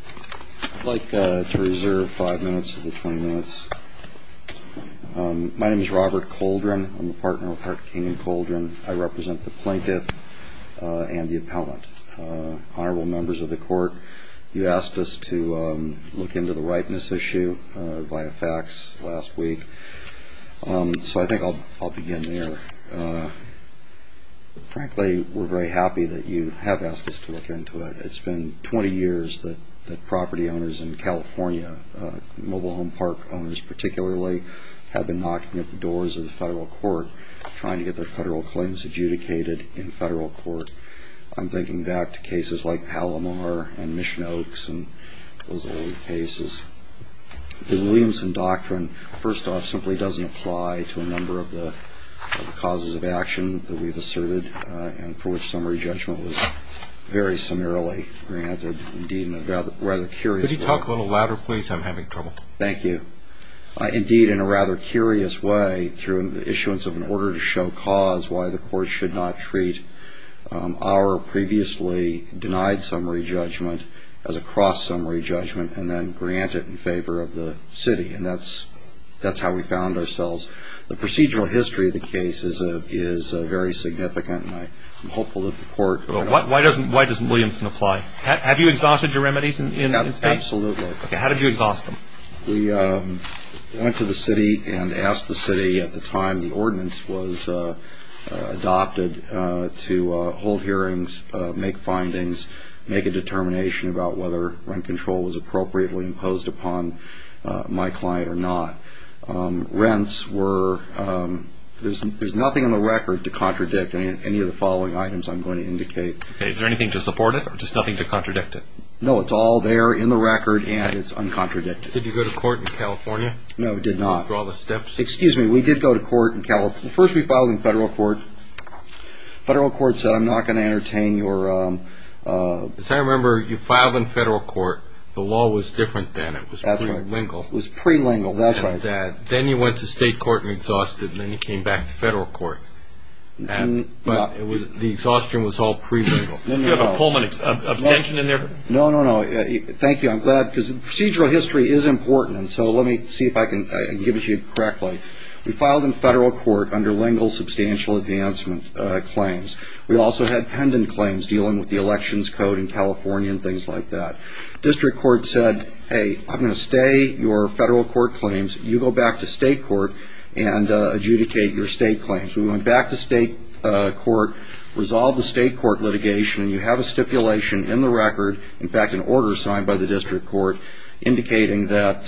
I'd like to reserve five minutes of the 20 minutes. My name is Robert Coldren. I'm a partner with Hart King & Coldren. I represent the plaintiff and the appellant. Honorable members of the court, you asked us to look into the ripeness issue via fax last week, so I think I'll begin there. Frankly, we're very happy that you have asked us to look into it. It's been 20 years that property owners in California, mobile home park owners particularly, have been knocking at the doors of the federal court trying to get their federal claims adjudicated in federal court. I'm thinking back to cases like Palomar and Mission Oaks and those old cases. The Williamson Doctrine, first off, simply doesn't apply to a number of the causes of action that we've asserted and for summary judgment was very summarily granted. Indeed, in a rather curious way... Could you talk a little louder, please? I'm having trouble. Thank you. Indeed, in a rather curious way, through the issuance of an order to show cause why the court should not treat our previously denied summary judgment as a cross summary judgment and then grant it in favor of the city. And that's how we found ourselves. The procedural history of the case is a very significant and I'm hopeful that the court... Well, why doesn't Williamson apply? Have you exhausted your remedies in state? Absolutely. How did you exhaust them? We went to the city and asked the city at the time the ordinance was adopted to hold hearings, make findings, make a determination about whether rent control was appropriately imposed upon my client or not. Rents were... There's nothing in the record to I'm going to indicate. Is there anything to support it or just nothing to contradict it? No, it's all there in the record and it's uncontradicted. Did you go to court in California? No, we did not. Through all the steps? Excuse me, we did go to court in California. First, we filed in federal court. Federal court said I'm not going to entertain your... As I remember, you filed in federal court. The law was different then. It was pre-lingual. It was pre-lingual, that's right. Then you went to state court and exhausted and then you came back to federal court. But it was the same thing. Exhaustion was all pre-lingual. Did you have a Pullman abstention in there? No, no, no. Thank you. I'm glad because procedural history is important. So let me see if I can give it to you correctly. We filed in federal court under lingual substantial advancement claims. We also had pendant claims dealing with the elections code in California and things like that. District court said, hey, I'm going to stay your federal court claims. You go back to state court and you have a stipulation in the record, in fact, an order signed by the district court indicating that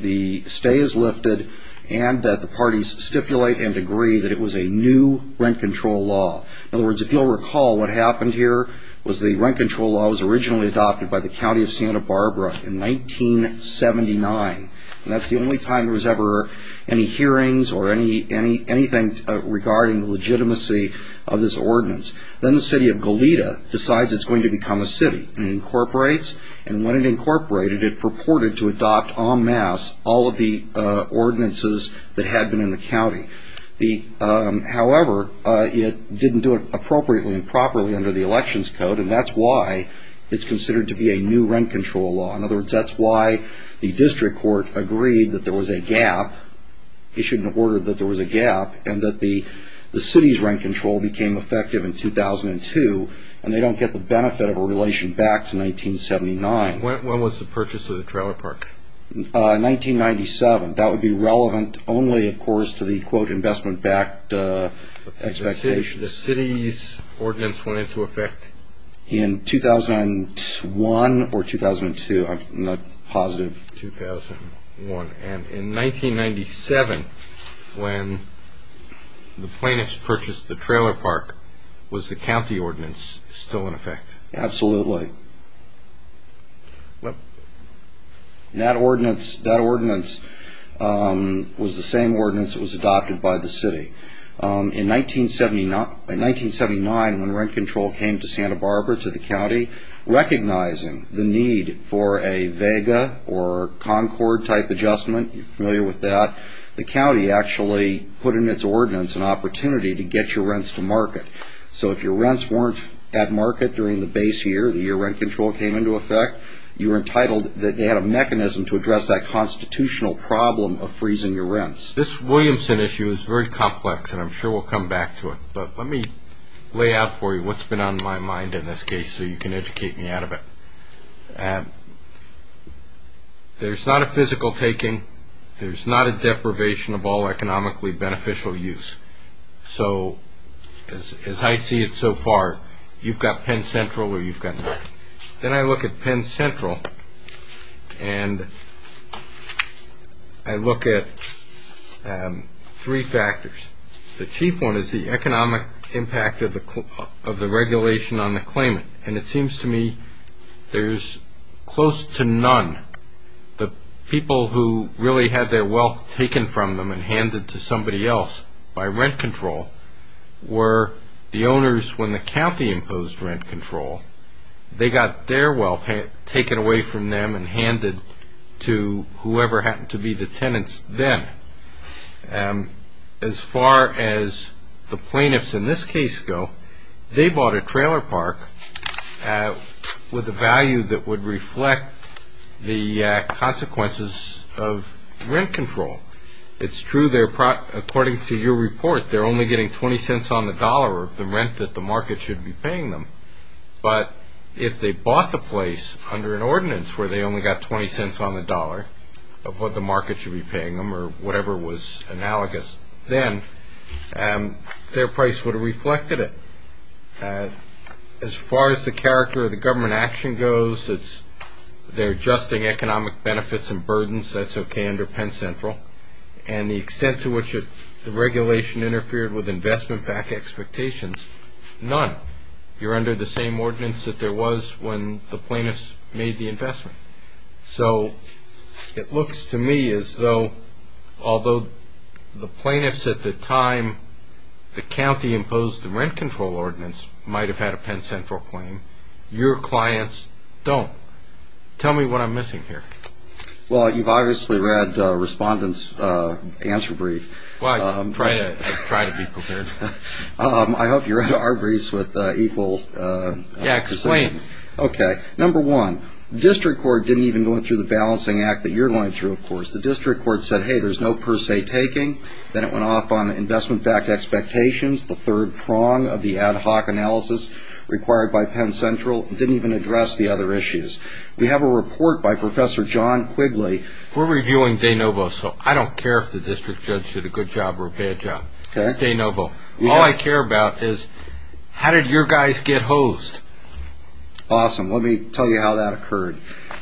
the stay is lifted and that the parties stipulate and agree that it was a new rent control law. In other words, if you'll recall, what happened here was the rent control law was originally adopted by the county of Santa Barbara in 1979. That's the only time there was ever any hearings or anything regarding the legitimacy of this ordinance. Then the city of Goleta decides it's going to become a city and incorporates. And when it incorporated, it purported to adopt en masse all of the ordinances that had been in the county. However, it didn't do it appropriately and properly under the elections code. And that's why it's considered to be a new rent control law. In other words, that's why the district court agreed that there was a gap issued an order that there was a gap and that the city's rent control became effective in 2002. And they don't get the benefit of a relation back to 1979. When was the purchase of the trailer park? 1997. That would be relevant only, of course, to the, quote, investment-backed expectations. The city's ordinance went into effect? In 2001 or 2002. I'm not positive. In 2001. And in 1997, when the plaintiffs purchased the trailer park, was the county ordinance still in effect? Absolutely. That ordinance was the same ordinance that was adopted by the city. In 1979, when rent control came to Santa Barbara, to the county, recognizing the need for a Vega or Concord type adjustment, you're familiar with that, the county actually put in its ordinance an opportunity to get your rents to market. So if your rents weren't at market during the base year, the year rent control came into effect, you were entitled that they had a mechanism to address that constitutional problem of freezing your rents. This Williamson issue is very complex, and I'm sure we'll come back to it. But let me lay out for you what's been on my mind in this case so you can educate me out of it. There's not a physical taking. There's not a deprivation of all economically beneficial use. So as I see it so far, you've got Penn Central or you've got nothing. Then I look at Penn Central, and I look at three factors. The chief one is the economic impact of the regulation on the claimant. And it seems to me there's close to none. The people who really had their wealth taken from them and handed to somebody else by rent control were the owners when the county imposed rent control. They got their wealth taken away from them and handed to whoever happened to be the tenants then. As far as the plaintiffs in this case go, they bought a trailer park with a value that would reflect the consequences of rent control. It's true, according to your report, they're only getting 20 cents on the dollar of the rent that the market should be paying them. But if they bought the place under an ordinance where they only got 20 cents on the dollar of what the market should be paying them, as far as the character of the government action goes, they're adjusting economic benefits and burdens. That's okay under Penn Central. And the extent to which the regulation interfered with investment-backed expectations, none. You're under the same ordinance that there was when the plaintiffs made the investment. So it looks to me as though, although the plaintiffs at the time the county imposed the rent control ordinance might have had a Penn Central claim, your clients don't. Tell me what I'm missing here. Well, you've obviously read Respondent's answer brief. Well, I try to be prepared. I hope you read our briefs with equal precision. Yeah, explain. Okay, number one, the district court didn't even go through the balancing act that you're going through, of course. The district court said, hey, there's no per se taking. Then it went off on investment-backed expectations, the third prong of the ad hoc analysis required by Penn Central. It didn't even address the other issues. We have a report by Professor John Quigley. We're reviewing De Novo, so I don't care if the district judge did a good job or a bad job. It's De Novo. All I care about is how did your guys get hosed? Awesome. Let me tell you how that occurred.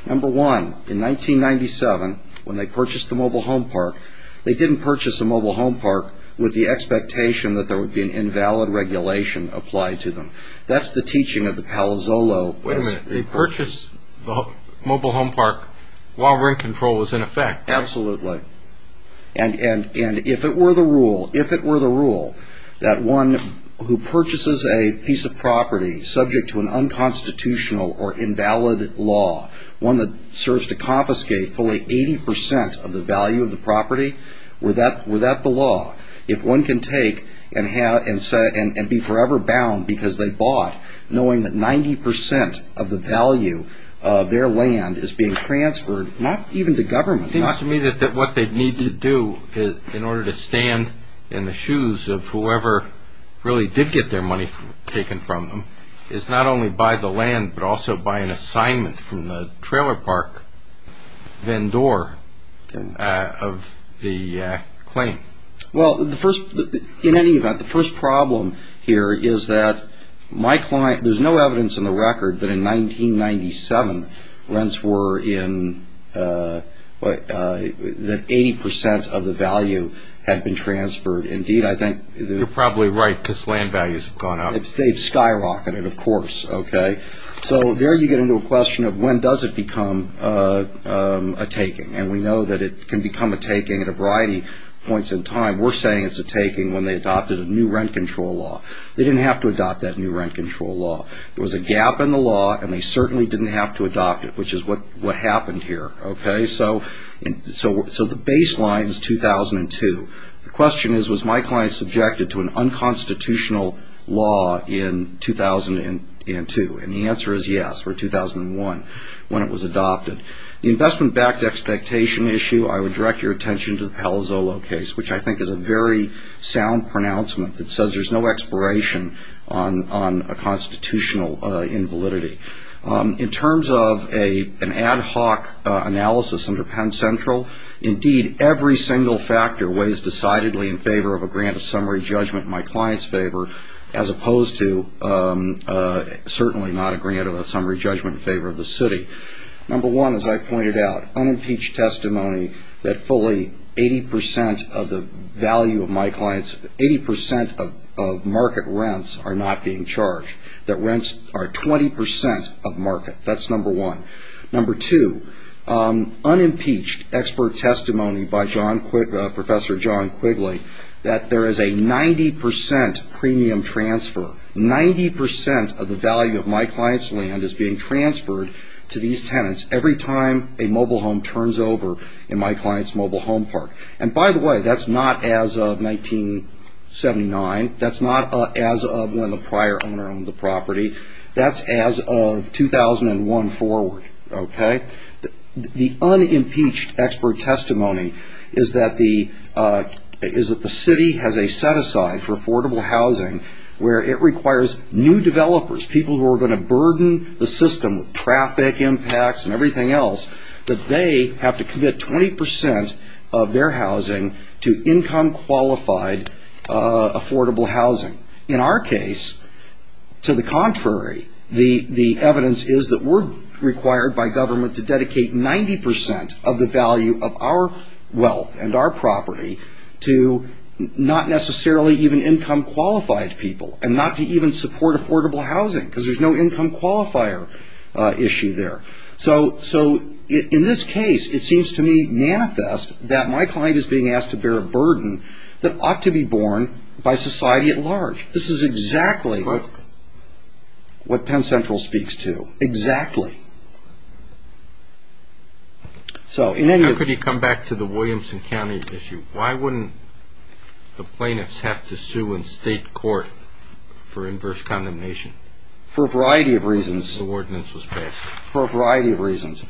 Number one, in 1997, when they purchased the mobile home park, they didn't purchase a mobile home park with the expectation that there would be an invalid regulation applied to them. That's the teaching of the Palazzolo. Wait a minute. They purchased the mobile home park while rent control was in effect. Absolutely. And if it were the rule that one who purchases a piece of property subject to an unconstitutional or invalid law, one that serves to confiscate fully 80 percent of the value of the property, were that the law? If one can take and be forever bound because they bought, knowing that 90 percent of the value of their land is being transferred, not even to government. It seems to me that what they need to do in order to stand in the shoes of whoever really did get their money taken from them is not only buy the land, but also buy an assignment from the trailer park vendor of the claim. Well, in any event, the first problem here is that there's no evidence in the record that in 1997, rents were in, that 80 percent of the value had been transferred. You're probably right, because land values have gone up. They've skyrocketed, of course. So there you get into a question of when does it become a taking. And we know that it can become a taking at a variety of points in time. We're saying it's a taking when they adopted a new rent control law. They didn't have to adopt that new rent control law. There was a gap in the law, and they certainly didn't have to adopt it, which is what happened here. So the baseline is 2002. The question is, was my client subjected to an unconstitutional law in 2002? And the answer is yes, or 2001, when it was adopted. The investment-backed expectation issue, I would direct your attention to the Palazzolo case, which I think is a very sound pronouncement that says there's no expiration on a constitutional invalidity. In terms of an ad hoc analysis under Penn Central, indeed, every single factor weighs decidedly in favor of a grant of summary judgment in my client's favor, as opposed to certainly not a grant of a summary judgment in favor of the city. Number one, as I pointed out, unimpeached testimony that fully 80 percent of the value of my clients, 80 percent of market rents are not being charged. That rents are 20 percent of market. That's number one. Number two, unimpeached expert testimony by Professor John Quigley, that there is a 90 percent premium transfer. Ninety percent of the value of my client's land is being transferred to these tenants every time a mobile home turns over in my client's mobile home park. And by the way, that's not as of 1979. That's not as of when the prior owner owned the property. That's as of 2001 forward, okay? The unimpeached expert testimony is that the city has a set-aside for affordable housing where it requires new developers, people who are going to burden the system with traffic impacts and everything else, that they have to commit 20 percent of their housing to income-qualified affordable housing. In our case, to the contrary, the evidence is that we're required by government to dedicate 90 percent of the value of our wealth and our property to not necessarily even income-qualified people and not to even support affordable housing because there's no income qualifier issue there. So in this case, it seems to me manifest that my client is being asked to bear a burden that ought to be borne by society at large. This is exactly what Penn Central speaks to. Exactly. So in any of... Could you come back to the Williamson County issue? Why wouldn't the plaintiffs have to sue in state court for inverse condemnation? For a variety of reasons. The ordinance was passed. For a variety of reasons.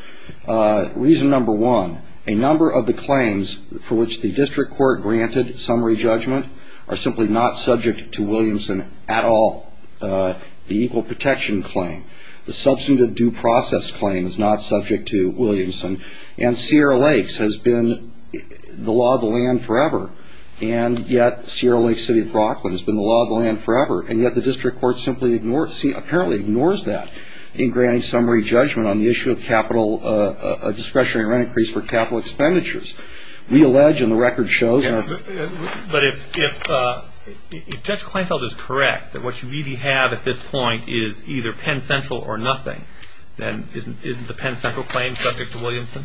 Reason number one, a number of the claims for which the district court granted summary judgment are simply not subject to Williamson at all, the equal protection claim. The substantive due process claim is not subject to Williamson and Sierra Lakes has been the law of the land forever. And yet, Sierra Lakes City of Brocklin has been the law of the land forever and yet the district court apparently ignores that in granting summary judgment on the issue of capital discretionary rent increase for capital expenditures. We allege and the record shows... But if Judge Kleinfeld is correct that what you really have at this point is either Penn Central or nothing, then isn't the Penn Central claim subject to Williamson?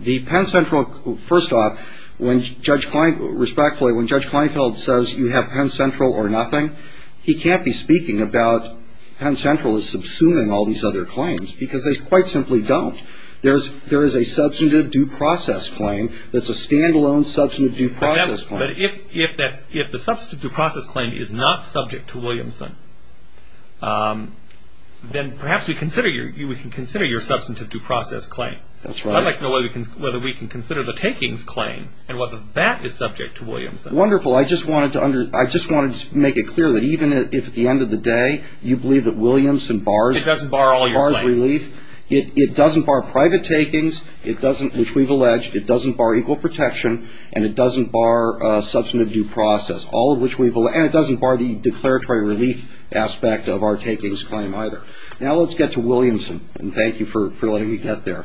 The Penn Central... First off, respectfully, when Judge Kleinfeld says you have Penn Central or nothing, he can't be speaking about Penn Central is subsuming all these other claims because they quite simply don't. There is a substantive due process claim that's a standalone substantive due process claim. But if the substantive due process claim is not subject to Williamson, then perhaps we can consider your substantive due process claim. I'd like to know whether we can consider the takings claim and whether that is subject to Williamson. Wonderful. I just wanted to make it clear that even if at the end of the day you believe that Williamson bars relief, it doesn't bar private takings, which we've alleged, it doesn't bar equal protection, and it doesn't bar substantive due process, all of which we've alleged, and it doesn't bar the declaratory relief aspect of our takings claim either. Now let's get to Williamson and thank you for letting me get there.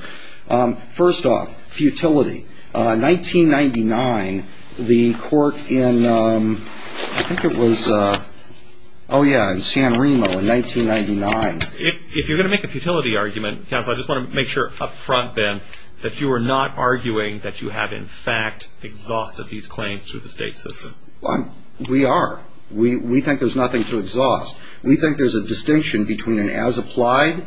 First off, futility. In 1999, the court in, I think it was, oh yeah, in San Remo in 1999. If you're going to make a futility argument, counsel, I just want to make sure up front then that you are not arguing that you have in fact exhausted these claims through the state system. Well, we are. We think there's nothing to exhaust. We think there's a distinction between an as-applied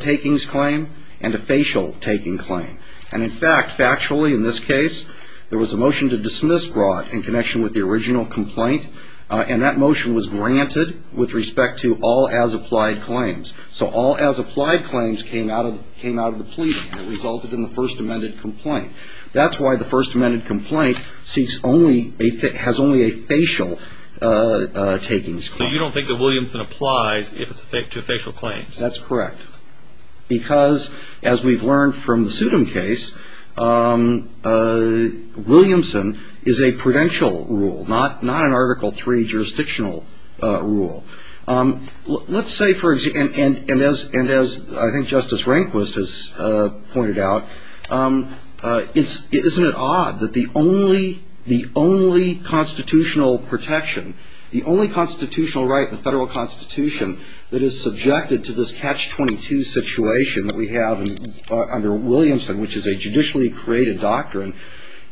takings claim and a facial taking claim. And in fact, factually in this case, there was a motion to dismiss Broad in connection with the original complaint, and that motion was granted with respect to all as-applied claims. So all as-applied claims came out of the pleading. It resulted in the first amended complaint. That's why the first amended complaint seeks only, has only a facial takings claim. So you don't think that Williamson applies to facial claims? That's correct. Because as we've learned from the Sudom case, Williamson is a prudential rule, not an Article III jurisdictional rule. Let's say for, and as I think Justice Rehnquist has pointed out, isn't it odd that the only constitutional protection, the only constitutional right in the federal constitution that is subjected to this Catch-22 situation that we have under Williamson, which is a judicially created doctrine,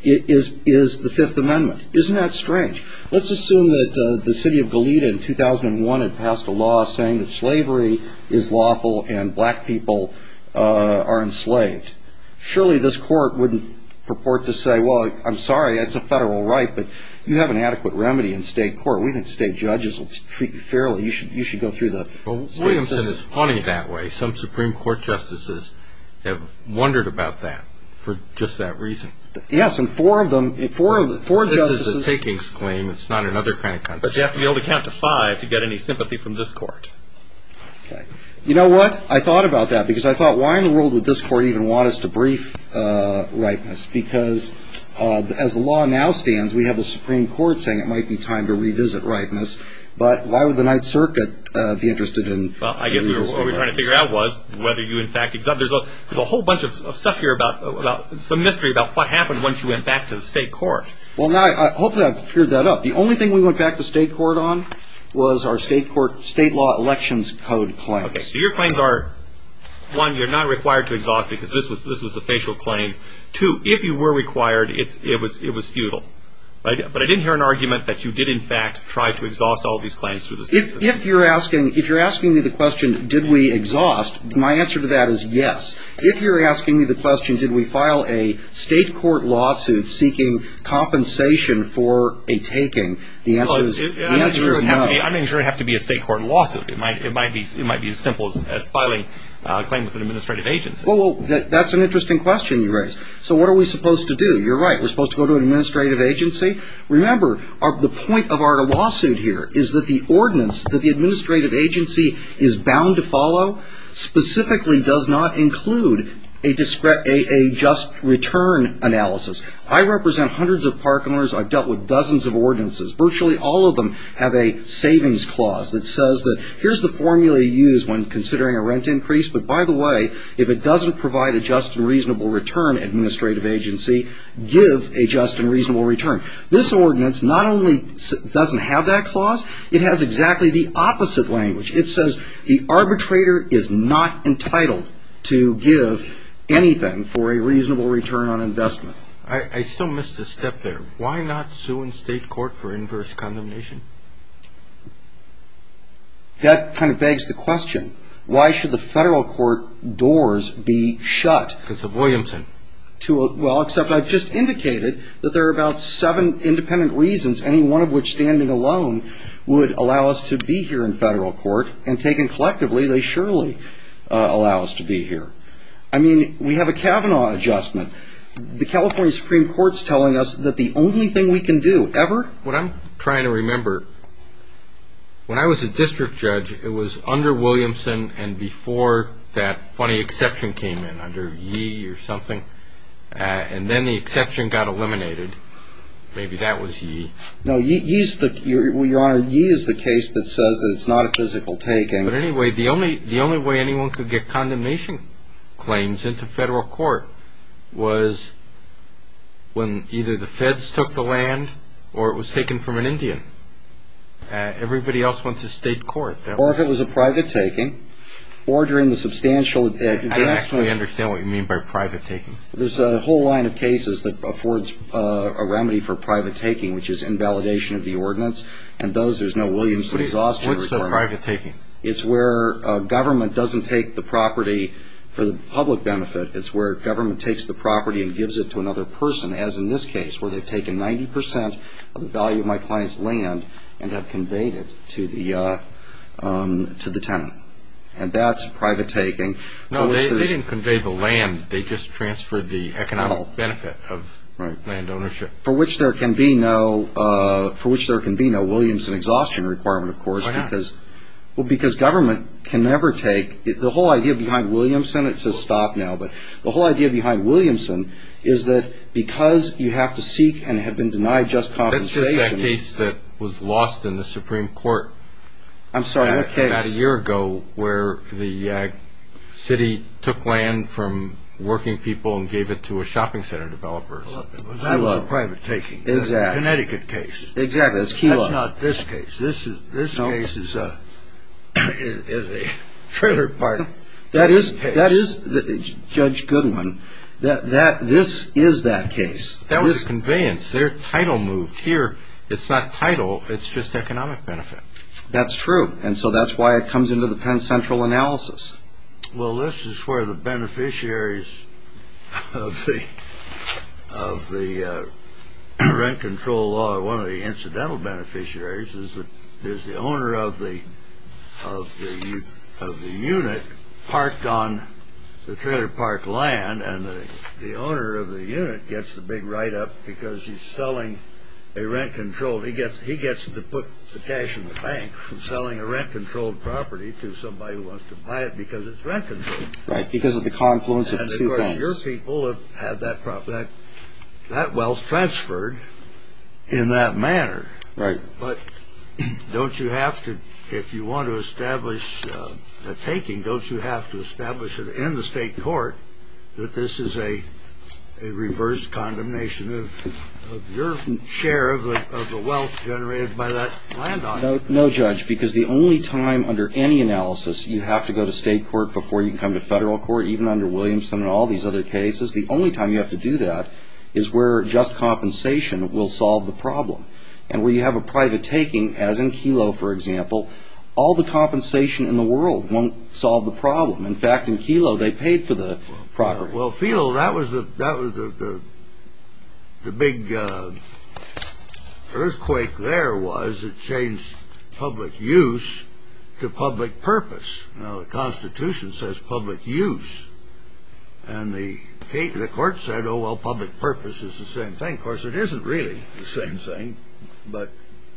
is the Fifth Amendment. Isn't that strange? Let's assume that the city of Goleta in 2001 had passed a law saying that slavery is lawful and black people are enslaved. Surely this court wouldn't purport to say, well, I'm sorry, it's a federal right, but you have an adequate remedy in state court. We think state judges will treat you fairly. You should go through the state system. Well, Williamson is funny that way. Some Supreme Court justices have wondered about that for just that reason. Yes, and four of them, four justices. This is a takings claim. It's not another kind of constitutional right. But you have to be able to count to five to get any sympathy from this court. Okay. You know what? I thought about that because I thought, why in the world would this court even want us to brief rightness, because as the law now stands, we have the Supreme Court saying it might be time to revisit rightness. But why would the Ninth Circuit be interested in revising rightness? Well, I guess what we were trying to figure out was whether you in fact exhaust. There's a whole bunch of stuff here about, some mystery about what happened once you went back to the state court. Well, now, hopefully I've cleared that up. The only thing we went back to state court on was our state court, state law elections code claims. Okay. So your claims are, one, you're not required to exhaust because this was the facial claim. Two, if you were required, it was futile. But I didn't hear an argument that you did in fact try to exhaust all these claims through the state system. If you're asking, if you're asking me the question, did we exhaust, my answer to that is yes. If you're asking me the question, did we file a state court lawsuit seeking compensation for a taking, the answer is no. I mean, it doesn't have to be a state court lawsuit. It might be as simple as filing a claim with an administrative agency. Well, that's an interesting question you raised. So what are we supposed to do? You're right. We're supposed to go to an administrative agency. Remember, the point of our lawsuit here is that the ordinance that the administrative agency is bound to follow specifically does not include a just return analysis. I represent hundreds of park owners. I've dealt with dozens of ordinances. Virtually all of them have a savings clause that says that here's the formula you use when considering a rent increase. But by the way, if it doesn't provide a just and reasonable return, administrative agency, give a just and reasonable return. This ordinance not only doesn't have that clause, it has exactly the opposite language. It says the arbitrator is not entitled to give anything for a reasonable return on investment. I still missed a step there. Why not sue in state court for inverse condemnation? That kind of begs the question. Why should the federal court doors be shut? Because of Williamson. Well, except I've just indicated that there are about seven independent reasons, any one of which standing alone would allow us to be here in federal court. And taken collectively, they surely allow us to be here. I mean, we have a Kavanaugh adjustment. The California Supreme Court's telling us that the only thing we can do ever... Williamson and before that funny exception came in under Yee or something, and then the exception got eliminated, maybe that was Yee. No, Yee is the case that says that it's not a physical taking. But anyway, the only way anyone could get condemnation claims into federal court was when either the feds took the land or it was taken from an Indian. Everybody else went to state court. Or if it was a private taking, ordering the substantial... I actually understand what you mean by private taking. There's a whole line of cases that affords a remedy for private taking, which is invalidation of the ordinance. And those, there's no Williamson exhaustion requirement. What's the private taking? It's where government doesn't take the property for the public benefit. It's where government takes the property and gives it to another person, as in this case, where they've taken 90% of the value of my client's land and have conveyed it to the tenant. And that's private taking. No, they didn't convey the land. They just transferred the economic benefit of land ownership. For which there can be no Williamson exhaustion requirement, of course. Why not? Well, because government can never take... The whole idea behind Williamson, it says stop now, but the whole idea behind Williamson is that because you have to seek and have been denied just compensation... There was a case that was lost in the Supreme Court about a year ago where the city took land from working people and gave it to a shopping center developer. That was a private taking. Exactly. Connecticut case. Exactly. That's not this case. This case is a trailer parking case. That is, Judge Goodwin, this is that case. That was a conveyance. Their title moved here. It's not title. It's just economic benefit. That's true. And so that's why it comes into the Penn Central analysis. Well, this is where the beneficiaries of the rent control law... One of the incidental beneficiaries is the owner of the unit parked on the trailer park land. And the owner of the unit gets the big write-up because he's selling a rent-controlled... He gets to put the cash in the bank from selling a rent-controlled property to somebody who wants to buy it because it's rent-controlled. Right, because of the confluence of two banks. And, of course, your people have had that wealth transferred in that manner. But don't you have to, if you want to establish a taking, don't you have to establish it in the state court that this is a reverse condemnation of your share of the wealth generated by that land owner? No, Judge, because the only time under any analysis you have to go to state court before you can come to federal court, even under Williamson and all these other cases, the only time you have to do that is where just compensation will solve the problem. And where you have a private taking, as in Kelo, for example, all the compensation in the world won't solve the problem. In fact, in Kelo, they paid for the property. Well, Kelo, that was the big earthquake there was. It changed public use to public purpose. Now, the Constitution says public use. And the court said, oh, well, public purpose is the same thing. Of course, it isn't really the same thing, but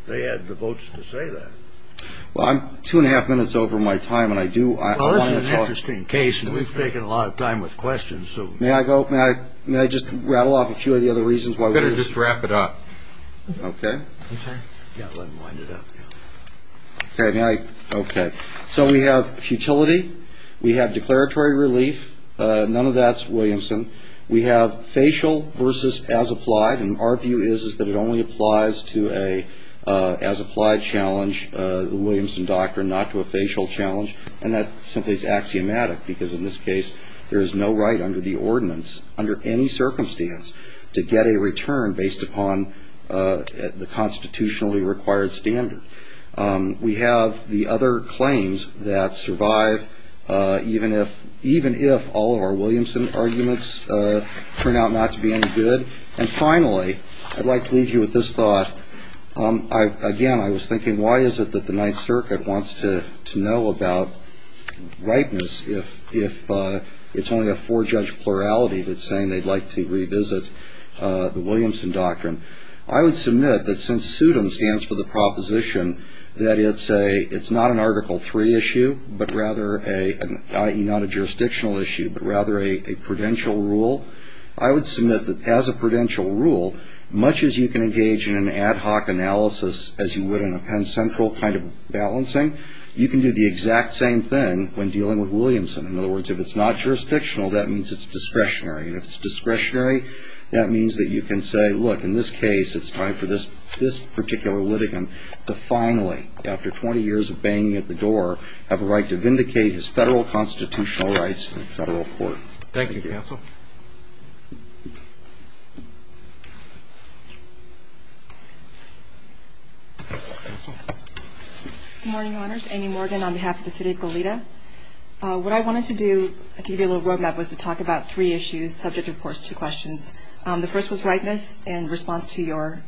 they had the votes to say that. Well, I'm two and a half minutes over my time, and I do want to talk. Well, this is an interesting case, and we've taken a lot of time with questions. May I go? May I just rattle off a few of the other reasons why we're here? You better just wrap it up. Okay. Okay. Yeah, let him wind it up. Okay. May I? Okay. So we have futility. We have declaratory relief. None of that's Williamson. We have facial versus as applied, and our view is that it only applies to an as applied challenge, the Williamson doctrine, not to a facial challenge. And that simply is axiomatic, because in this case, there is no right under the ordinance, under any circumstance, to get a return based upon the constitutionally required standard. We have the other claims that survive even if all of our Williamson arguments turn out not to be any good. And finally, I'd like to leave you with this thought. Again, I was thinking, why is it that the Ninth Circuit wants to know about rightness if it's only a four-judge plurality that's saying they'd like to revisit the Williamson doctrine? I would submit that since SUDM stands for the proposition that it's not an Article III issue, but rather a, i.e., not a jurisdictional issue, but rather a prudential rule, I would submit that as a prudential rule, much as you can engage in an ad hoc analysis, as you would in a Penn Central kind of balancing, you can do the exact same thing when dealing with Williamson. In other words, if it's not jurisdictional, that means it's discretionary. And if it's discretionary, that means that you can say, look, in this case, it's time for this particular litigant to finally, after 20 years of banging at the door, have a right to vindicate his federal constitutional rights in federal court. Thank you, counsel. Good morning, Your Honors. Amy Morgan on behalf of the city of Goleta. What I wanted to do to give you a little roadmap was to talk about three issues subject, of course, to questions. The first was rightness in response to your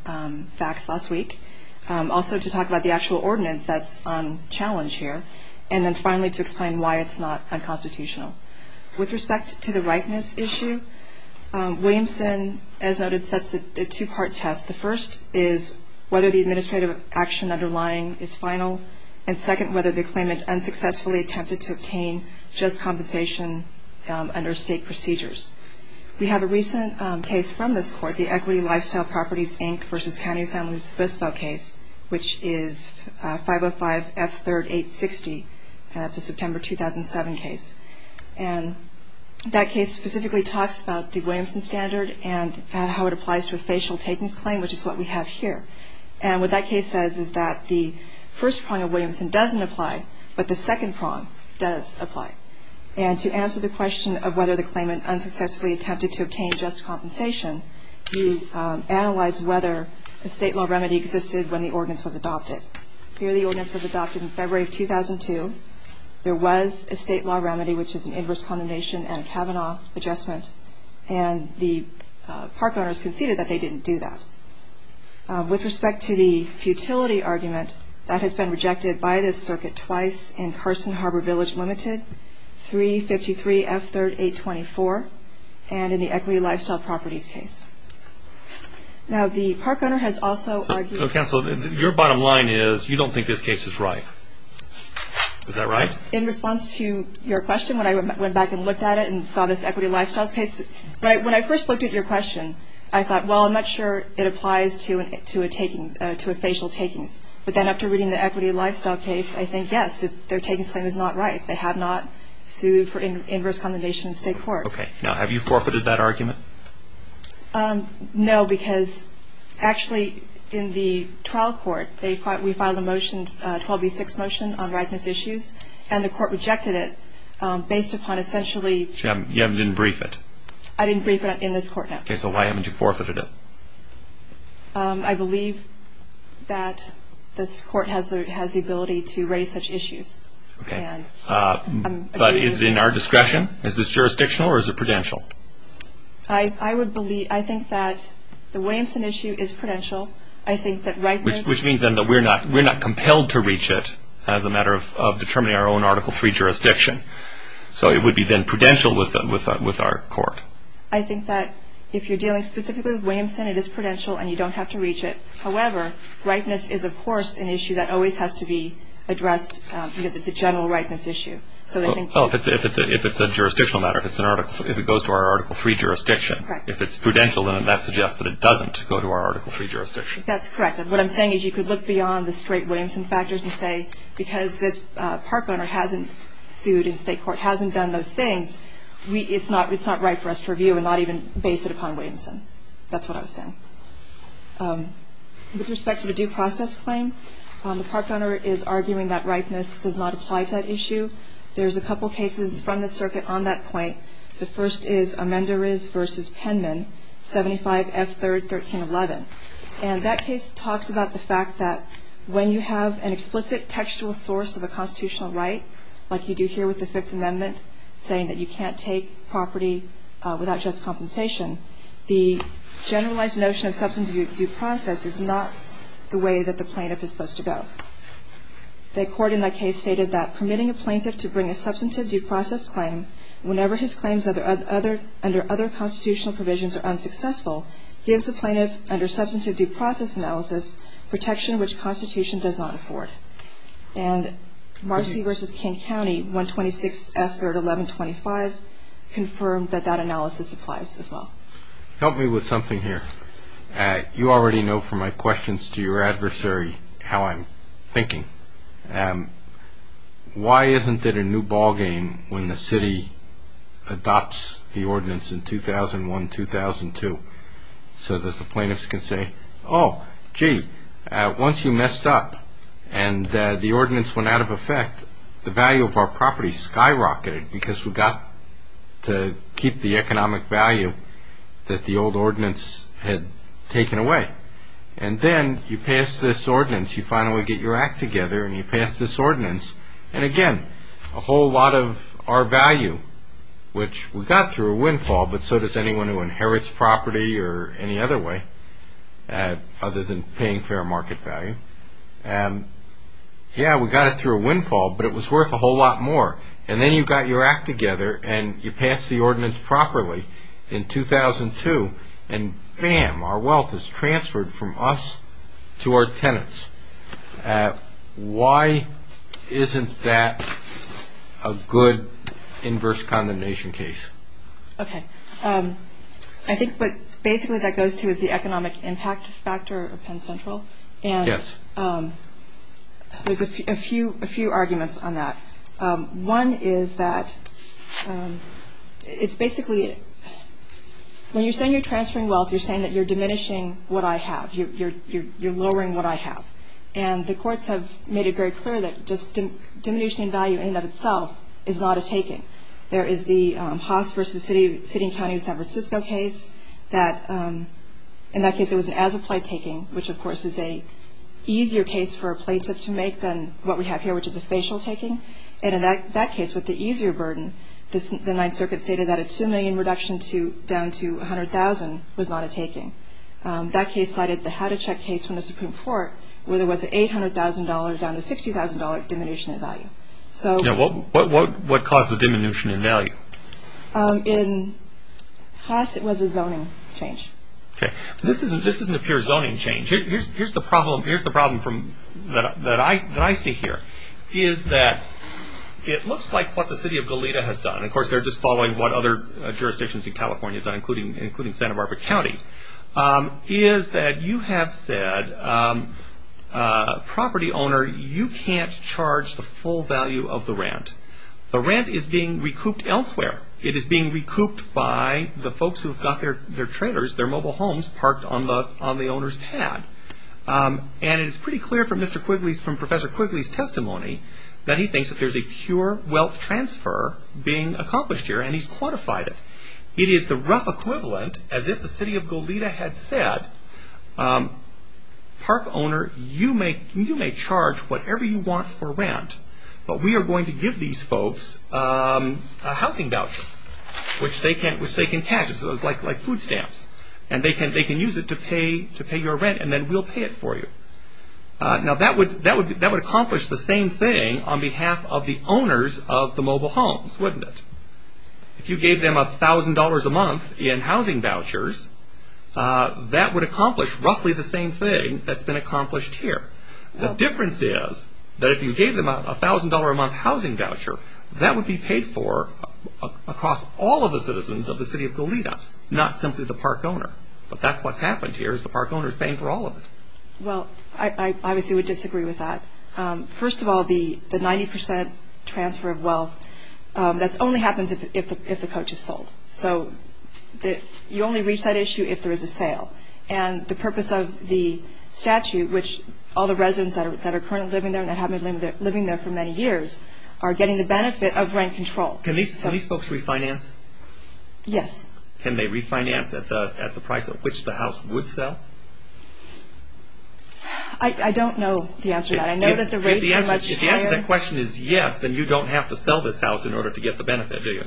facts last week, also to talk about the actual ordinance that's on challenge here, and then finally to explain why it's not unconstitutional. With respect to the rightness issue, Williamson, as noted, sets a two-part test. The first is whether the administrative action underlying is final, and second, whether the claimant unsuccessfully attempted to obtain just compensation under state procedures. We have a recent case from this court, the Equity Lifestyle Properties, Inc. versus County Assemblies FISPA case, which is 505F3-860, and that's a September 2007 case. And that case specifically talks about the Williamson standard and how it applies to a facial takings claim, which is what we have here. And what that case says is that the first prong of Williamson doesn't apply, but the second prong does apply. And to answer the question of whether the claimant unsuccessfully attempted to obtain just compensation, you analyze whether a state law remedy existed when the ordinance was adopted. Here the ordinance was adopted in February of 2002. There was a state law remedy, which is an inverse condemnation and Kavanaugh adjustment, and the park owners conceded that they didn't do that. With respect to the futility argument, that has been rejected by this circuit twice in Carson Harbor Village Limited, 353F3-824, and in the Equity Lifestyle Properties case. Is that right? In response to your question, when I went back and looked at it and saw this Equity Lifestyles case, when I first looked at your question, I thought, well, I'm not sure it applies to a taking, to a facial takings. But then after reading the Equity Lifestyle case, I think, yes, their takings claim is not right. They have not sued for inverse condemnation in state court. Okay. Now, have you forfeited that argument? No, because actually in the trial court, we filed a motion, a 12B6 motion on rightness issues, and the court rejected it based upon essentially You didn't brief it? I didn't brief it in this court, no. Okay, so why haven't you forfeited it? I believe that this court has the ability to raise such issues. Okay. But is it in our discretion? Is this jurisdictional or is it prudential? I think that the Williamson issue is prudential. I think that rightness Which means then that we're not compelled to reach it as a matter of determining our own Article III jurisdiction. So it would be then prudential with our court. I think that if you're dealing specifically with Williamson, it is prudential and you don't have to reach it. However, rightness is, of course, an issue that always has to be addressed, the general rightness issue. If it's a jurisdictional matter, if it goes to our Article III jurisdiction, if it's prudential, then that suggests that it doesn't go to our Article III jurisdiction. That's correct. What I'm saying is you could look beyond the straight Williamson factors and say because this park owner hasn't sued in state court, hasn't done those things, it's not right for us to review and not even base it upon Williamson. That's what I was saying. With respect to the due process claim, the park owner is arguing that rightness does not apply to that issue. There's a couple cases from the circuit on that point. The first is Amendores v. Penman, 75 F. 3rd, 1311. And that case talks about the fact that when you have an explicit textual source of a constitutional right, like you do here with the Fifth Amendment, saying that you can't take property without just compensation, the generalized notion of substantive due process is not the way that the plaintiff is supposed to go. The court in that case stated that permitting a plaintiff to bring a substantive due process claim whenever his claims under other constitutional provisions are unsuccessful gives the plaintiff under substantive due process analysis protection which Constitution does not afford. And Marcy v. King County, 126 F. 3rd, 1125, confirmed that that analysis applies as well. Help me with something here. You already know from my questions to your adversary how I'm thinking. Why isn't it a new ball game when the city adopts the ordinance in 2001-2002 so that the plaintiffs can say, Oh, gee, once you messed up and the ordinance went out of effect, the value of our property skyrocketed because we got to keep the economic value that the old ordinance had taken away. And then you pass this ordinance. You finally get your act together and you pass this ordinance. And again, a whole lot of our value, which we got through a windfall, but so does anyone who inherits property or any other way other than paying fair market value. Yeah, we got it through a windfall, but it was worth a whole lot more. And then you got your act together and you passed the ordinance properly in 2002, and bam, our wealth is transferred from us to our tenants. Why isn't that a good inverse condemnation case? Okay. I think what basically that goes to is the economic impact factor of Penn Central. Yes. And there's a few arguments on that. One is that it's basically when you're saying you're transferring wealth, you're saying that you're diminishing what I have. You're lowering what I have. And the courts have made it very clear that just diminishing value in and of itself is not a taking. There is the Haas v. City and County of San Francisco case that, in that case, this is an easier case for a plaintiff to make than what we have here, which is a facial taking. And in that case, with the easier burden, the Ninth Circuit stated that a $2 million reduction down to $100,000 was not a taking. That case cited the Haticek case from the Supreme Court, where there was an $800,000 down to $60,000 diminution in value. What caused the diminution in value? In Haas, it was a zoning change. Okay. This isn't a pure zoning change. Here's the problem that I see here. It looks like what the city of Goleta has done, and of course they're just following what other jurisdictions in California have done, including Santa Barbara County, is that you have said, property owner, you can't charge the full value of the rent. The rent is being recouped elsewhere. It is being recouped by the folks who have got their trailers, their mobile homes, parked on the owner's pad. And it's pretty clear from Professor Quigley's testimony that he thinks that there's a pure wealth transfer being accomplished here, and he's quantified it. It is the rough equivalent, as if the city of Goleta had said, park owner, you may charge whatever you want for rent, but we are going to give these folks a housing voucher, which they can cash, like food stamps. And they can use it to pay your rent, and then we'll pay it for you. Now that would accomplish the same thing on behalf of the owners of the mobile homes, wouldn't it? If you gave them $1,000 a month in housing vouchers, that would accomplish roughly the same thing that's been accomplished here. The difference is that if you gave them a $1,000 a month housing voucher, that would be paid for across all of the citizens of the city of Goleta, not simply the park owner. But that's what's happened here is the park owner is paying for all of it. Well, I obviously would disagree with that. First of all, the 90% transfer of wealth, that only happens if the coach is sold. So you only reach that issue if there is a sale. And the purpose of the statute, which all the residents that are currently living there and have been living there for many years, are getting the benefit of rent control. Can these folks refinance? Yes. Can they refinance at the price at which the house would sell? I don't know the answer to that. I know that the rates are much higher. If the answer to that question is yes, then you don't have to sell this house in order to get the benefit, do you?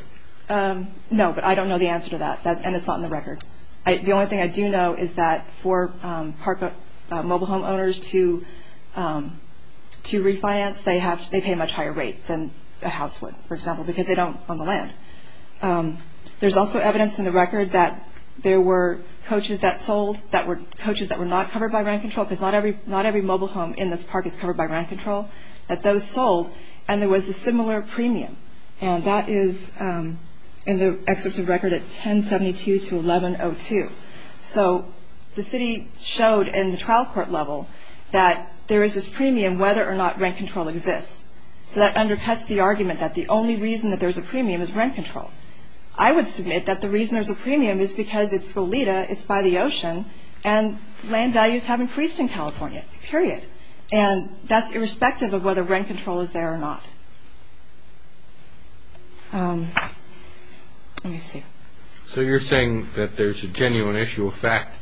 No, but I don't know the answer to that, and it's not in the record. The only thing I do know is that for park mobile home owners to refinance, they pay a much higher rate than a house would, for example, because they don't own the land. There's also evidence in the record that there were coaches that sold, coaches that were not covered by rent control, because not every mobile home in this park is covered by rent control, that those sold, and there was a similar premium. And that is in the excerpts of record at 1072-1102. So the city showed in the trial court level that there is this premium whether or not rent control exists. So that undercuts the argument that the only reason that there's a premium is rent control. I would submit that the reason there's a premium is because it's Goleta, it's by the ocean, and land values have increased in California, period. And that's irrespective of whether rent control is there or not. Let me see. So you're saying that there's a genuine issue of fact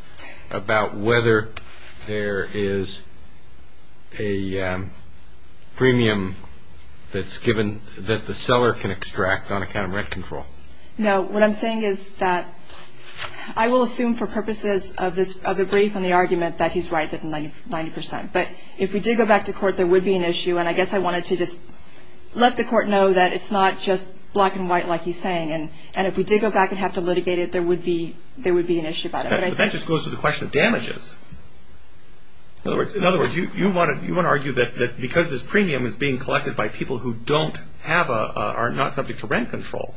about whether there is a premium that's given, that the seller can extract on account of rent control. No, what I'm saying is that I will assume for purposes of the brief and the argument that he's right, but if we did go back to court, there would be an issue. And I guess I wanted to just let the court know that it's not just black and white like he's saying. And if we did go back and have to litigate it, there would be an issue about it. But that just goes to the question of damages. In other words, you want to argue that because this premium is being collected by people who don't have a, are not subject to rent control,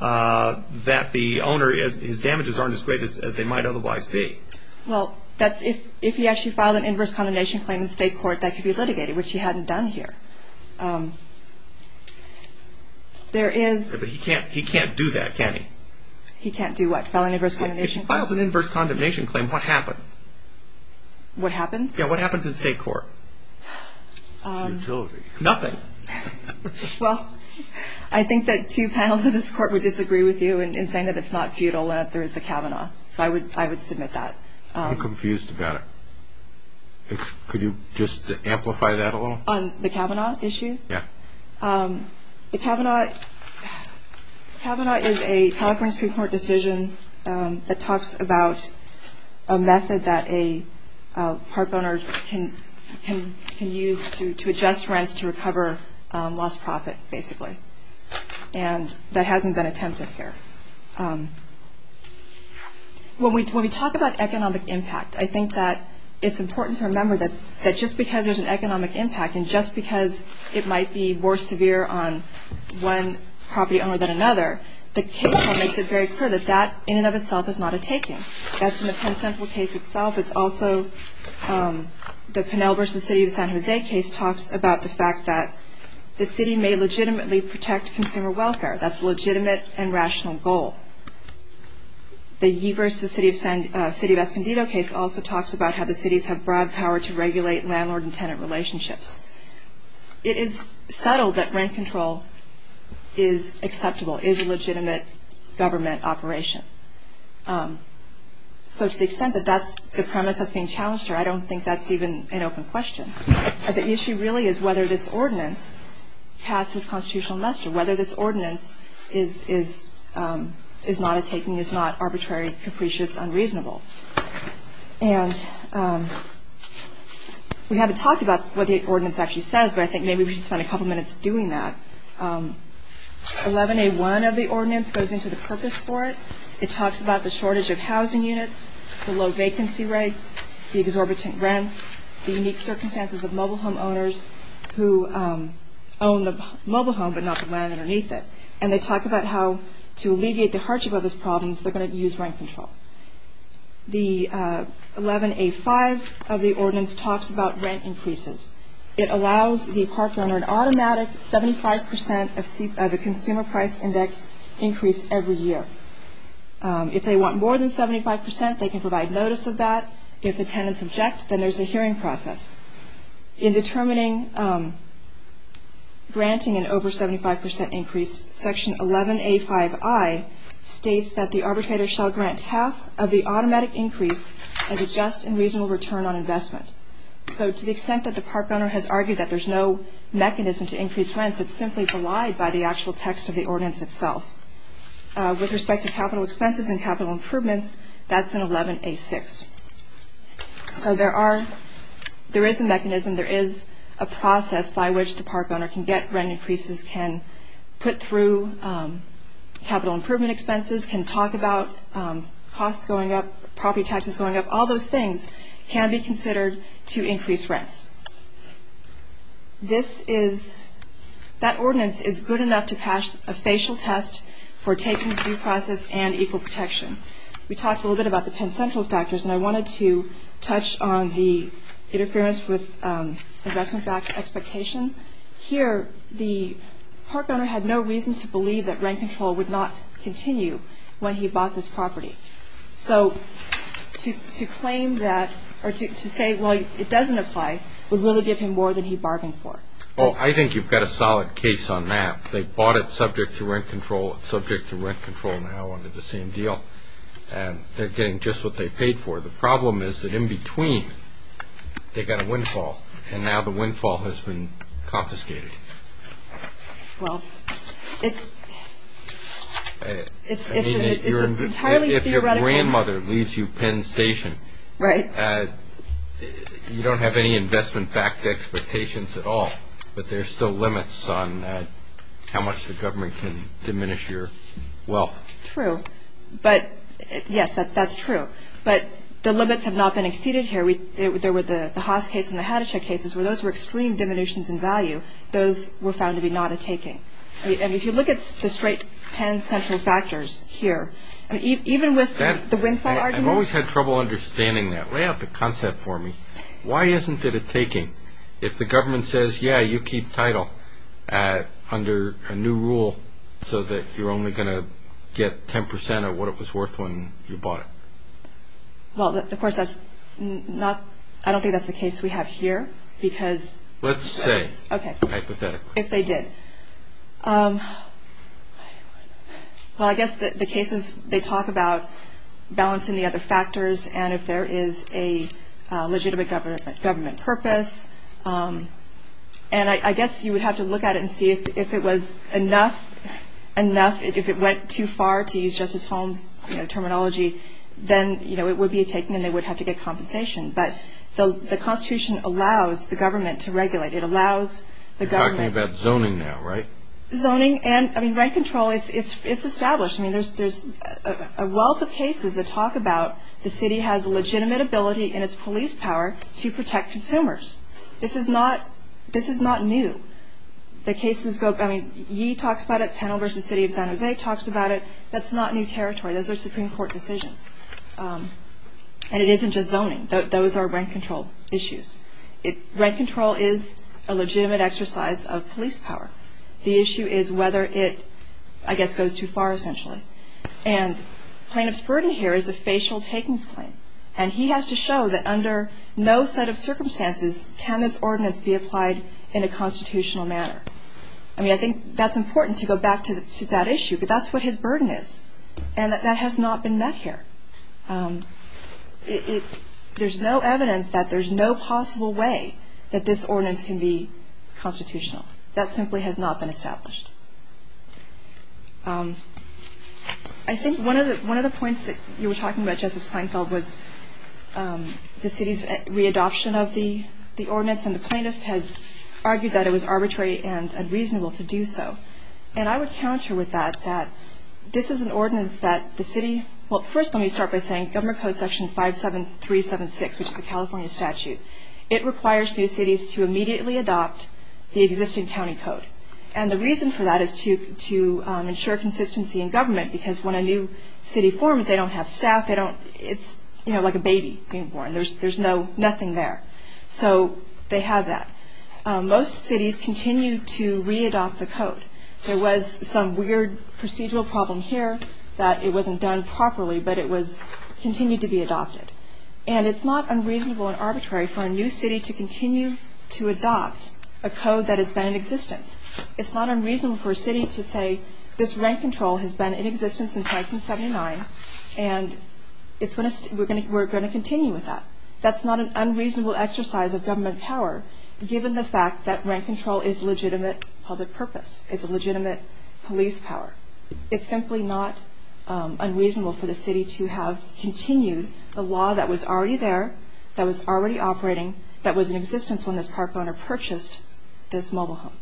that the owner, his damages aren't as great as they might otherwise be. Well, that's if he actually filed an inverse condemnation claim in state court, that could be litigated, which he hadn't done here. There is. But he can't do that, can he? He can't do what? File an inverse condemnation claim? If he files an inverse condemnation claim, what happens? What happens? Yeah, what happens in state court? Futility. Nothing. Well, I think that two panels of this court would disagree with you in saying that it's not futile and that there is the Kavanaugh. So I would submit that. I'm confused about it. Could you just amplify that a little? On the Kavanaugh issue? Yeah. The Kavanaugh is a California Supreme Court decision that talks about a method that a park owner can use to adjust rents to recover lost profit, basically. And that hasn't been attempted here. When we talk about economic impact, I think that it's important to remember that just because there's an economic impact and just because it might be more severe on one property owner than another, the case makes it very clear that that in and of itself is not a taking. That's in the Penn Central case itself. It's also the Pinel v. City of San Jose case talks about the fact that the city may legitimately protect consumer welfare. That's a legitimate and rational goal. The Yee v. City of Escondido case also talks about how the cities have broad power to regulate landlord and tenant relationships. It is subtle that rent control is acceptable, is a legitimate government operation. So to the extent that that's the premise that's being challenged here, I don't think that's even an open question. The issue really is whether this ordinance passes constitutional muster, whether this ordinance is not a taking, is not arbitrary, capricious, unreasonable. And we haven't talked about what the ordinance actually says, but I think maybe we should spend a couple minutes doing that. 11A1 of the ordinance goes into the purpose for it. It talks about the shortage of housing units, the low vacancy rates, the exorbitant rents, the unique circumstances of mobile home owners who own the mobile home but not the land underneath it. And they talk about how to alleviate the hardship of those problems, they're going to use rent control. The 11A5 of the ordinance talks about rent increases. It allows the park owner an automatic 75 percent of the consumer price index increase every year. If they want more than 75 percent, they can provide notice of that. If the tenants object, then there's a hearing process. In determining granting an over 75 percent increase, Section 11A5I states that the arbitrator shall grant half of the automatic increase as a just and reasonable return on investment. So to the extent that the park owner has argued that there's no mechanism to increase rents, it's simply belied by the actual text of the ordinance itself. With respect to capital expenses and capital improvements, that's in 11A6. So there is a mechanism, there is a process by which the park owner can get rent increases, can put through capital improvement expenses, can talk about costs going up, property taxes going up, all those things can be considered to increase rents. That ordinance is good enough to pass a facial test for taking this due process and equal protection. We talked a little bit about the Penn Central factors, and I wanted to touch on the interference with investment expectation. Here, the park owner had no reason to believe that rent control would not continue when he bought this property. So to claim that or to say, well, it doesn't apply, would really give him more than he bargained for. Oh, I think you've got a solid case on that. They bought it subject to rent control, it's subject to rent control now under the same deal, and they're getting just what they paid for. The problem is that in between, they got a windfall, and now the windfall has been confiscated. It's entirely theoretical. If your grandmother leaves you Penn Station, you don't have any investment backed expectations at all, but there are still limits on how much the government can diminish your wealth. True. But, yes, that's true. But the limits have not been exceeded here. There were the Haas case and the Haticek cases where those were extreme diminutions in value. Those were found to be not a taking. And if you look at the straight Penn Central factors here, even with the windfall argument. I've always had trouble understanding that. Lay out the concept for me. Why isn't it a taking? If the government says, yeah, you keep title under a new rule so that you're only going to get 10% of what it was worth when you bought it. Well, of course, I don't think that's the case we have here. Let's say, hypothetically. If they did. Well, I guess the cases, they talk about balancing the other factors, and if there is a legitimate government purpose. And I guess you would have to look at it and see if it was enough. If it went too far, to use Justice Holmes' terminology, then it would be a taking and they would have to get compensation. But the Constitution allows the government to regulate. It allows the government. You're talking about zoning now, right? Zoning and rent control, it's established. I mean, there's a wealth of cases that talk about the city has a legitimate ability in its police power to protect consumers. This is not new. The cases go, I mean, he talks about it. Panel versus City of San Jose talks about it. That's not new territory. Those are Supreme Court decisions. And it isn't just zoning. Those are rent control issues. Rent control is a legitimate exercise of police power. The issue is whether it, I guess, goes too far, essentially. And plaintiff's burden here is a facial takings claim, and he has to show that under no set of circumstances can this ordinance be applied in a constitutional manner. I mean, I think that's important to go back to that issue, but that's what his burden is, and that has not been met here. There's no evidence that there's no possible way that this ordinance can be constitutional. That simply has not been established. I think one of the points that you were talking about, Justice Kleinfeld, was the city's re-adoption of the ordinance, and the plaintiff has argued that it was arbitrary and unreasonable to do so. And I would counter with that, that this is an ordinance that the city, well, first let me start by saying Government Code Section 57376, which is a California statute, it requires new cities to immediately adopt the existing county code. And the reason for that is to ensure consistency in government, because when a new city forms, they don't have staff. It's like a baby being born. There's nothing there. So they have that. Most cities continue to re-adopt the code. There was some weird procedural problem here that it wasn't done properly, but it continued to be adopted. And it's not unreasonable and arbitrary for a new city to continue to adopt a code that has been in existence. It's not unreasonable for a city to say, this rent control has been in existence since 1979, and we're going to continue with that. That's not an unreasonable exercise of government power, given the fact that rent control is a legitimate public purpose. It's a legitimate police power. It's simply not unreasonable for the city to have continued the law that was already there, that was already operating, that was in existence when this park owner purchased this mobile home.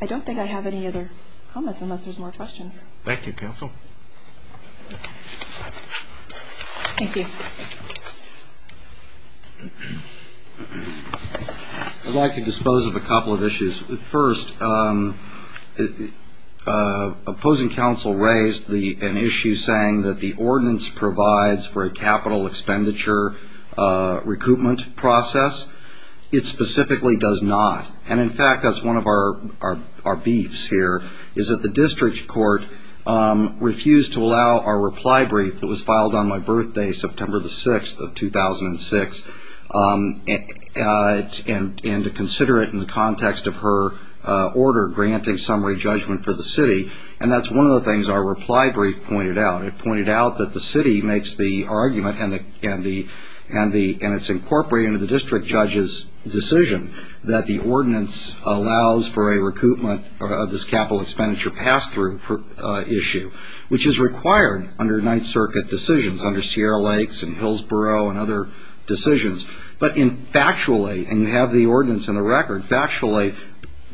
I don't think I have any other comments unless there's more questions. Thank you, Counsel. Thank you. I'd like to dispose of a couple of issues. First, opposing counsel raised an issue saying that the ordinance provides for a capital expenditure recoupment process. It specifically does not. And, in fact, that's one of our beefs here, is that the district court refused to allow our reply brief that was filed on my birthday, September the 6th of 2006, and to consider it in the context of her order granting summary judgment for the city. And that's one of the things our reply brief pointed out. It pointed out that the city makes the argument, and it's incorporated into the district judge's decision, that the ordinance allows for a recoupment of this capital expenditure pass-through issue, which is required under Ninth Circuit decisions, under Sierra Lakes and Hillsborough and other decisions. But factually, and you have the ordinance in the record, factually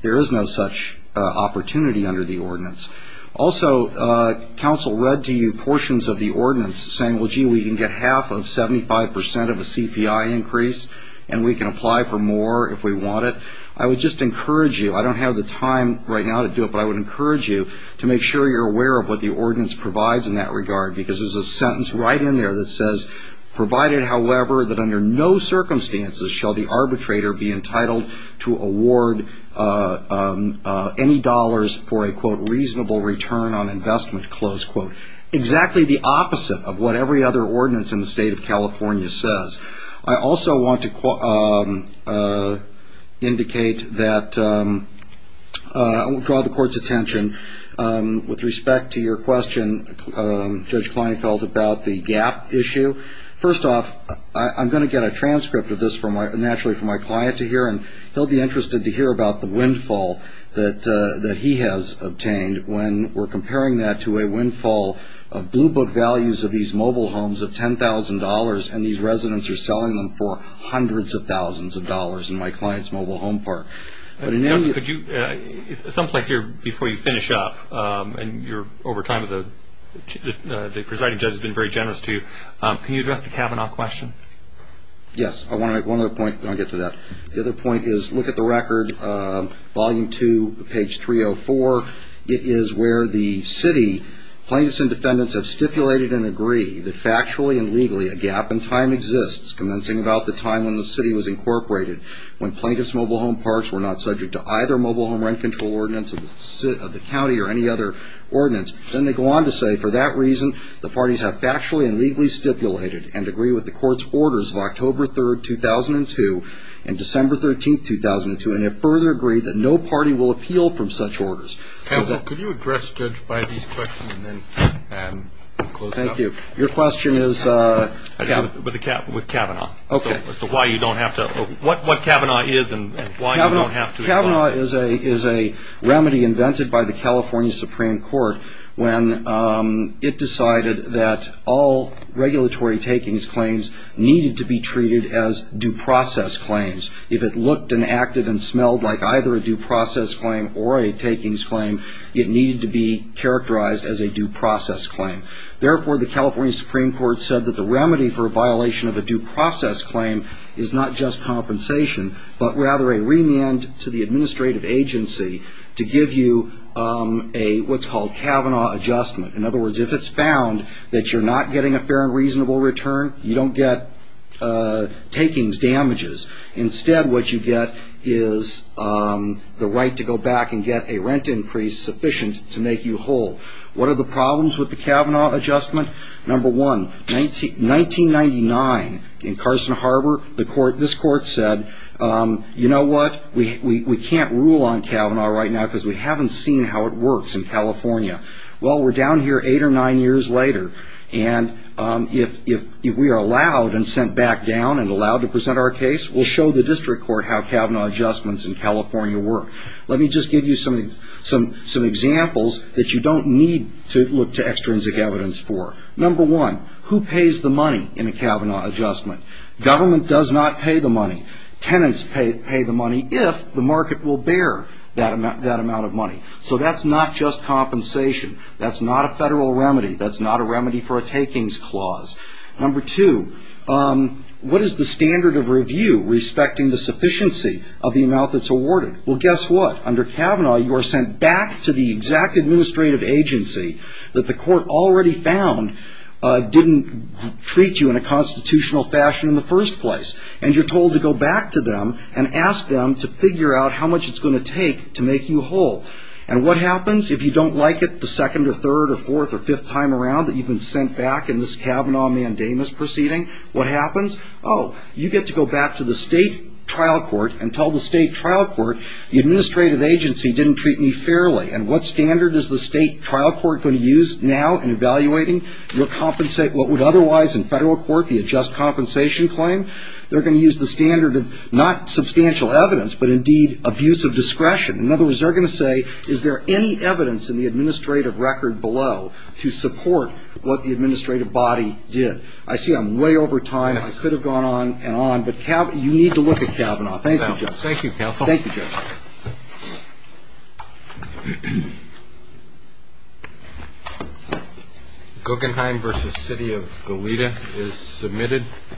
there is no such opportunity under the ordinance. Also, counsel read to you portions of the ordinance saying, well, gee, we can get half of 75 percent of a CPI increase, and we can apply for more if we want it. I would just encourage you, I don't have the time right now to do it, but I would encourage you to make sure you're aware of what the ordinance provides in that regard, because there's a sentence right in there that says, provided, however, that under no circumstances shall the arbitrator be entitled to award any dollars for a, quote, reasonable return on investment, close quote. Exactly the opposite of what every other ordinance in the state of California says. I also want to indicate that I will draw the court's attention with respect to your question, Judge Kleinfeld, about the gap issue. First off, I'm going to get a transcript of this naturally for my client to hear, and he'll be interested to hear about the windfall that he has obtained when we're comparing that to a windfall of blue book values of these mobile homes of $10,000 and these residents are selling them for hundreds of thousands of dollars in my client's mobile home park. Could you, someplace here before you finish up, and you're over time, the presiding judge has been very generous to you, can you address the Kavanaugh question? Yes, I want to make one other point, then I'll get to that. The other point is, look at the record, volume two, page 304. It is where the city plaintiffs and defendants have stipulated and agree that factually and legally a gap in time exists, commencing about the time when the city was incorporated, when plaintiffs' mobile home parks were not subject to either mobile home rent control ordinance of the county or any other ordinance. Then they go on to say, for that reason, the parties have factually and legally stipulated and agree with the court's orders of October 3, 2002 and December 13, 2002, and have further agreed that no party will appeal from such orders. Could you address Judge Bybee's question and then close it up? Thank you. Your question is? With Kavanaugh. Okay. As to why you don't have to, what Kavanaugh is and why you don't have to. Kavanaugh is a remedy invented by the California Supreme Court when it decided that all regulatory takings claims needed to be treated as due process claims. If it looked and acted and smelled like either a due process claim or a takings claim, it needed to be characterized as a due process claim. Therefore, the California Supreme Court said that the remedy for a violation of a due process claim is not just compensation, but rather a remand to the administrative agency to give you what's called Kavanaugh adjustment. In other words, if it's found that you're not getting a fair and reasonable return, you don't get takings damages. Instead, what you get is the right to go back and get a rent increase sufficient to make you whole. What are the problems with the Kavanaugh adjustment? Number one, 1999 in Carson Harbor, this court said, you know what, we can't rule on Kavanaugh right now because we haven't seen how it works in California. Well, we're down here eight or nine years later, and if we are allowed and sent back down and allowed to present our case, we'll show the district court how Kavanaugh adjustments in California work. Let me just give you some examples that you don't need to look to extrinsic evidence for. Number one, who pays the money in a Kavanaugh adjustment? Government does not pay the money. Tenants pay the money if the market will bear that amount of money. So that's not just compensation. That's not a federal remedy. That's not a remedy for a takings clause. Number two, what is the standard of review respecting the sufficiency of the amount that's awarded? Well, guess what? Under Kavanaugh, you are sent back to the exact administrative agency that the court already found didn't treat you in a constitutional fashion in the first place, and you're told to go back to them and ask them to figure out how much it's going to take to make you whole. And what happens if you don't like it the second or third or fourth or fifth time around that you've been sent back in this Kavanaugh mandamus proceeding? What happens? Oh, you get to go back to the state trial court and tell the state trial court, the administrative agency didn't treat me fairly, and what standard is the state trial court going to use now in evaluating what would otherwise, in federal court, be a just compensation claim? They're going to use the standard of not substantial evidence, but indeed abuse of discretion. In other words, they're going to say, is there any evidence in the administrative record below to support what the administrative body did? I see I'm way over time. I could have gone on and on, but you need to look at Kavanaugh. Thank you, Judge. Thank you, counsel. Thank you, Judge. Guggenheim v. City of Goleta is submitted.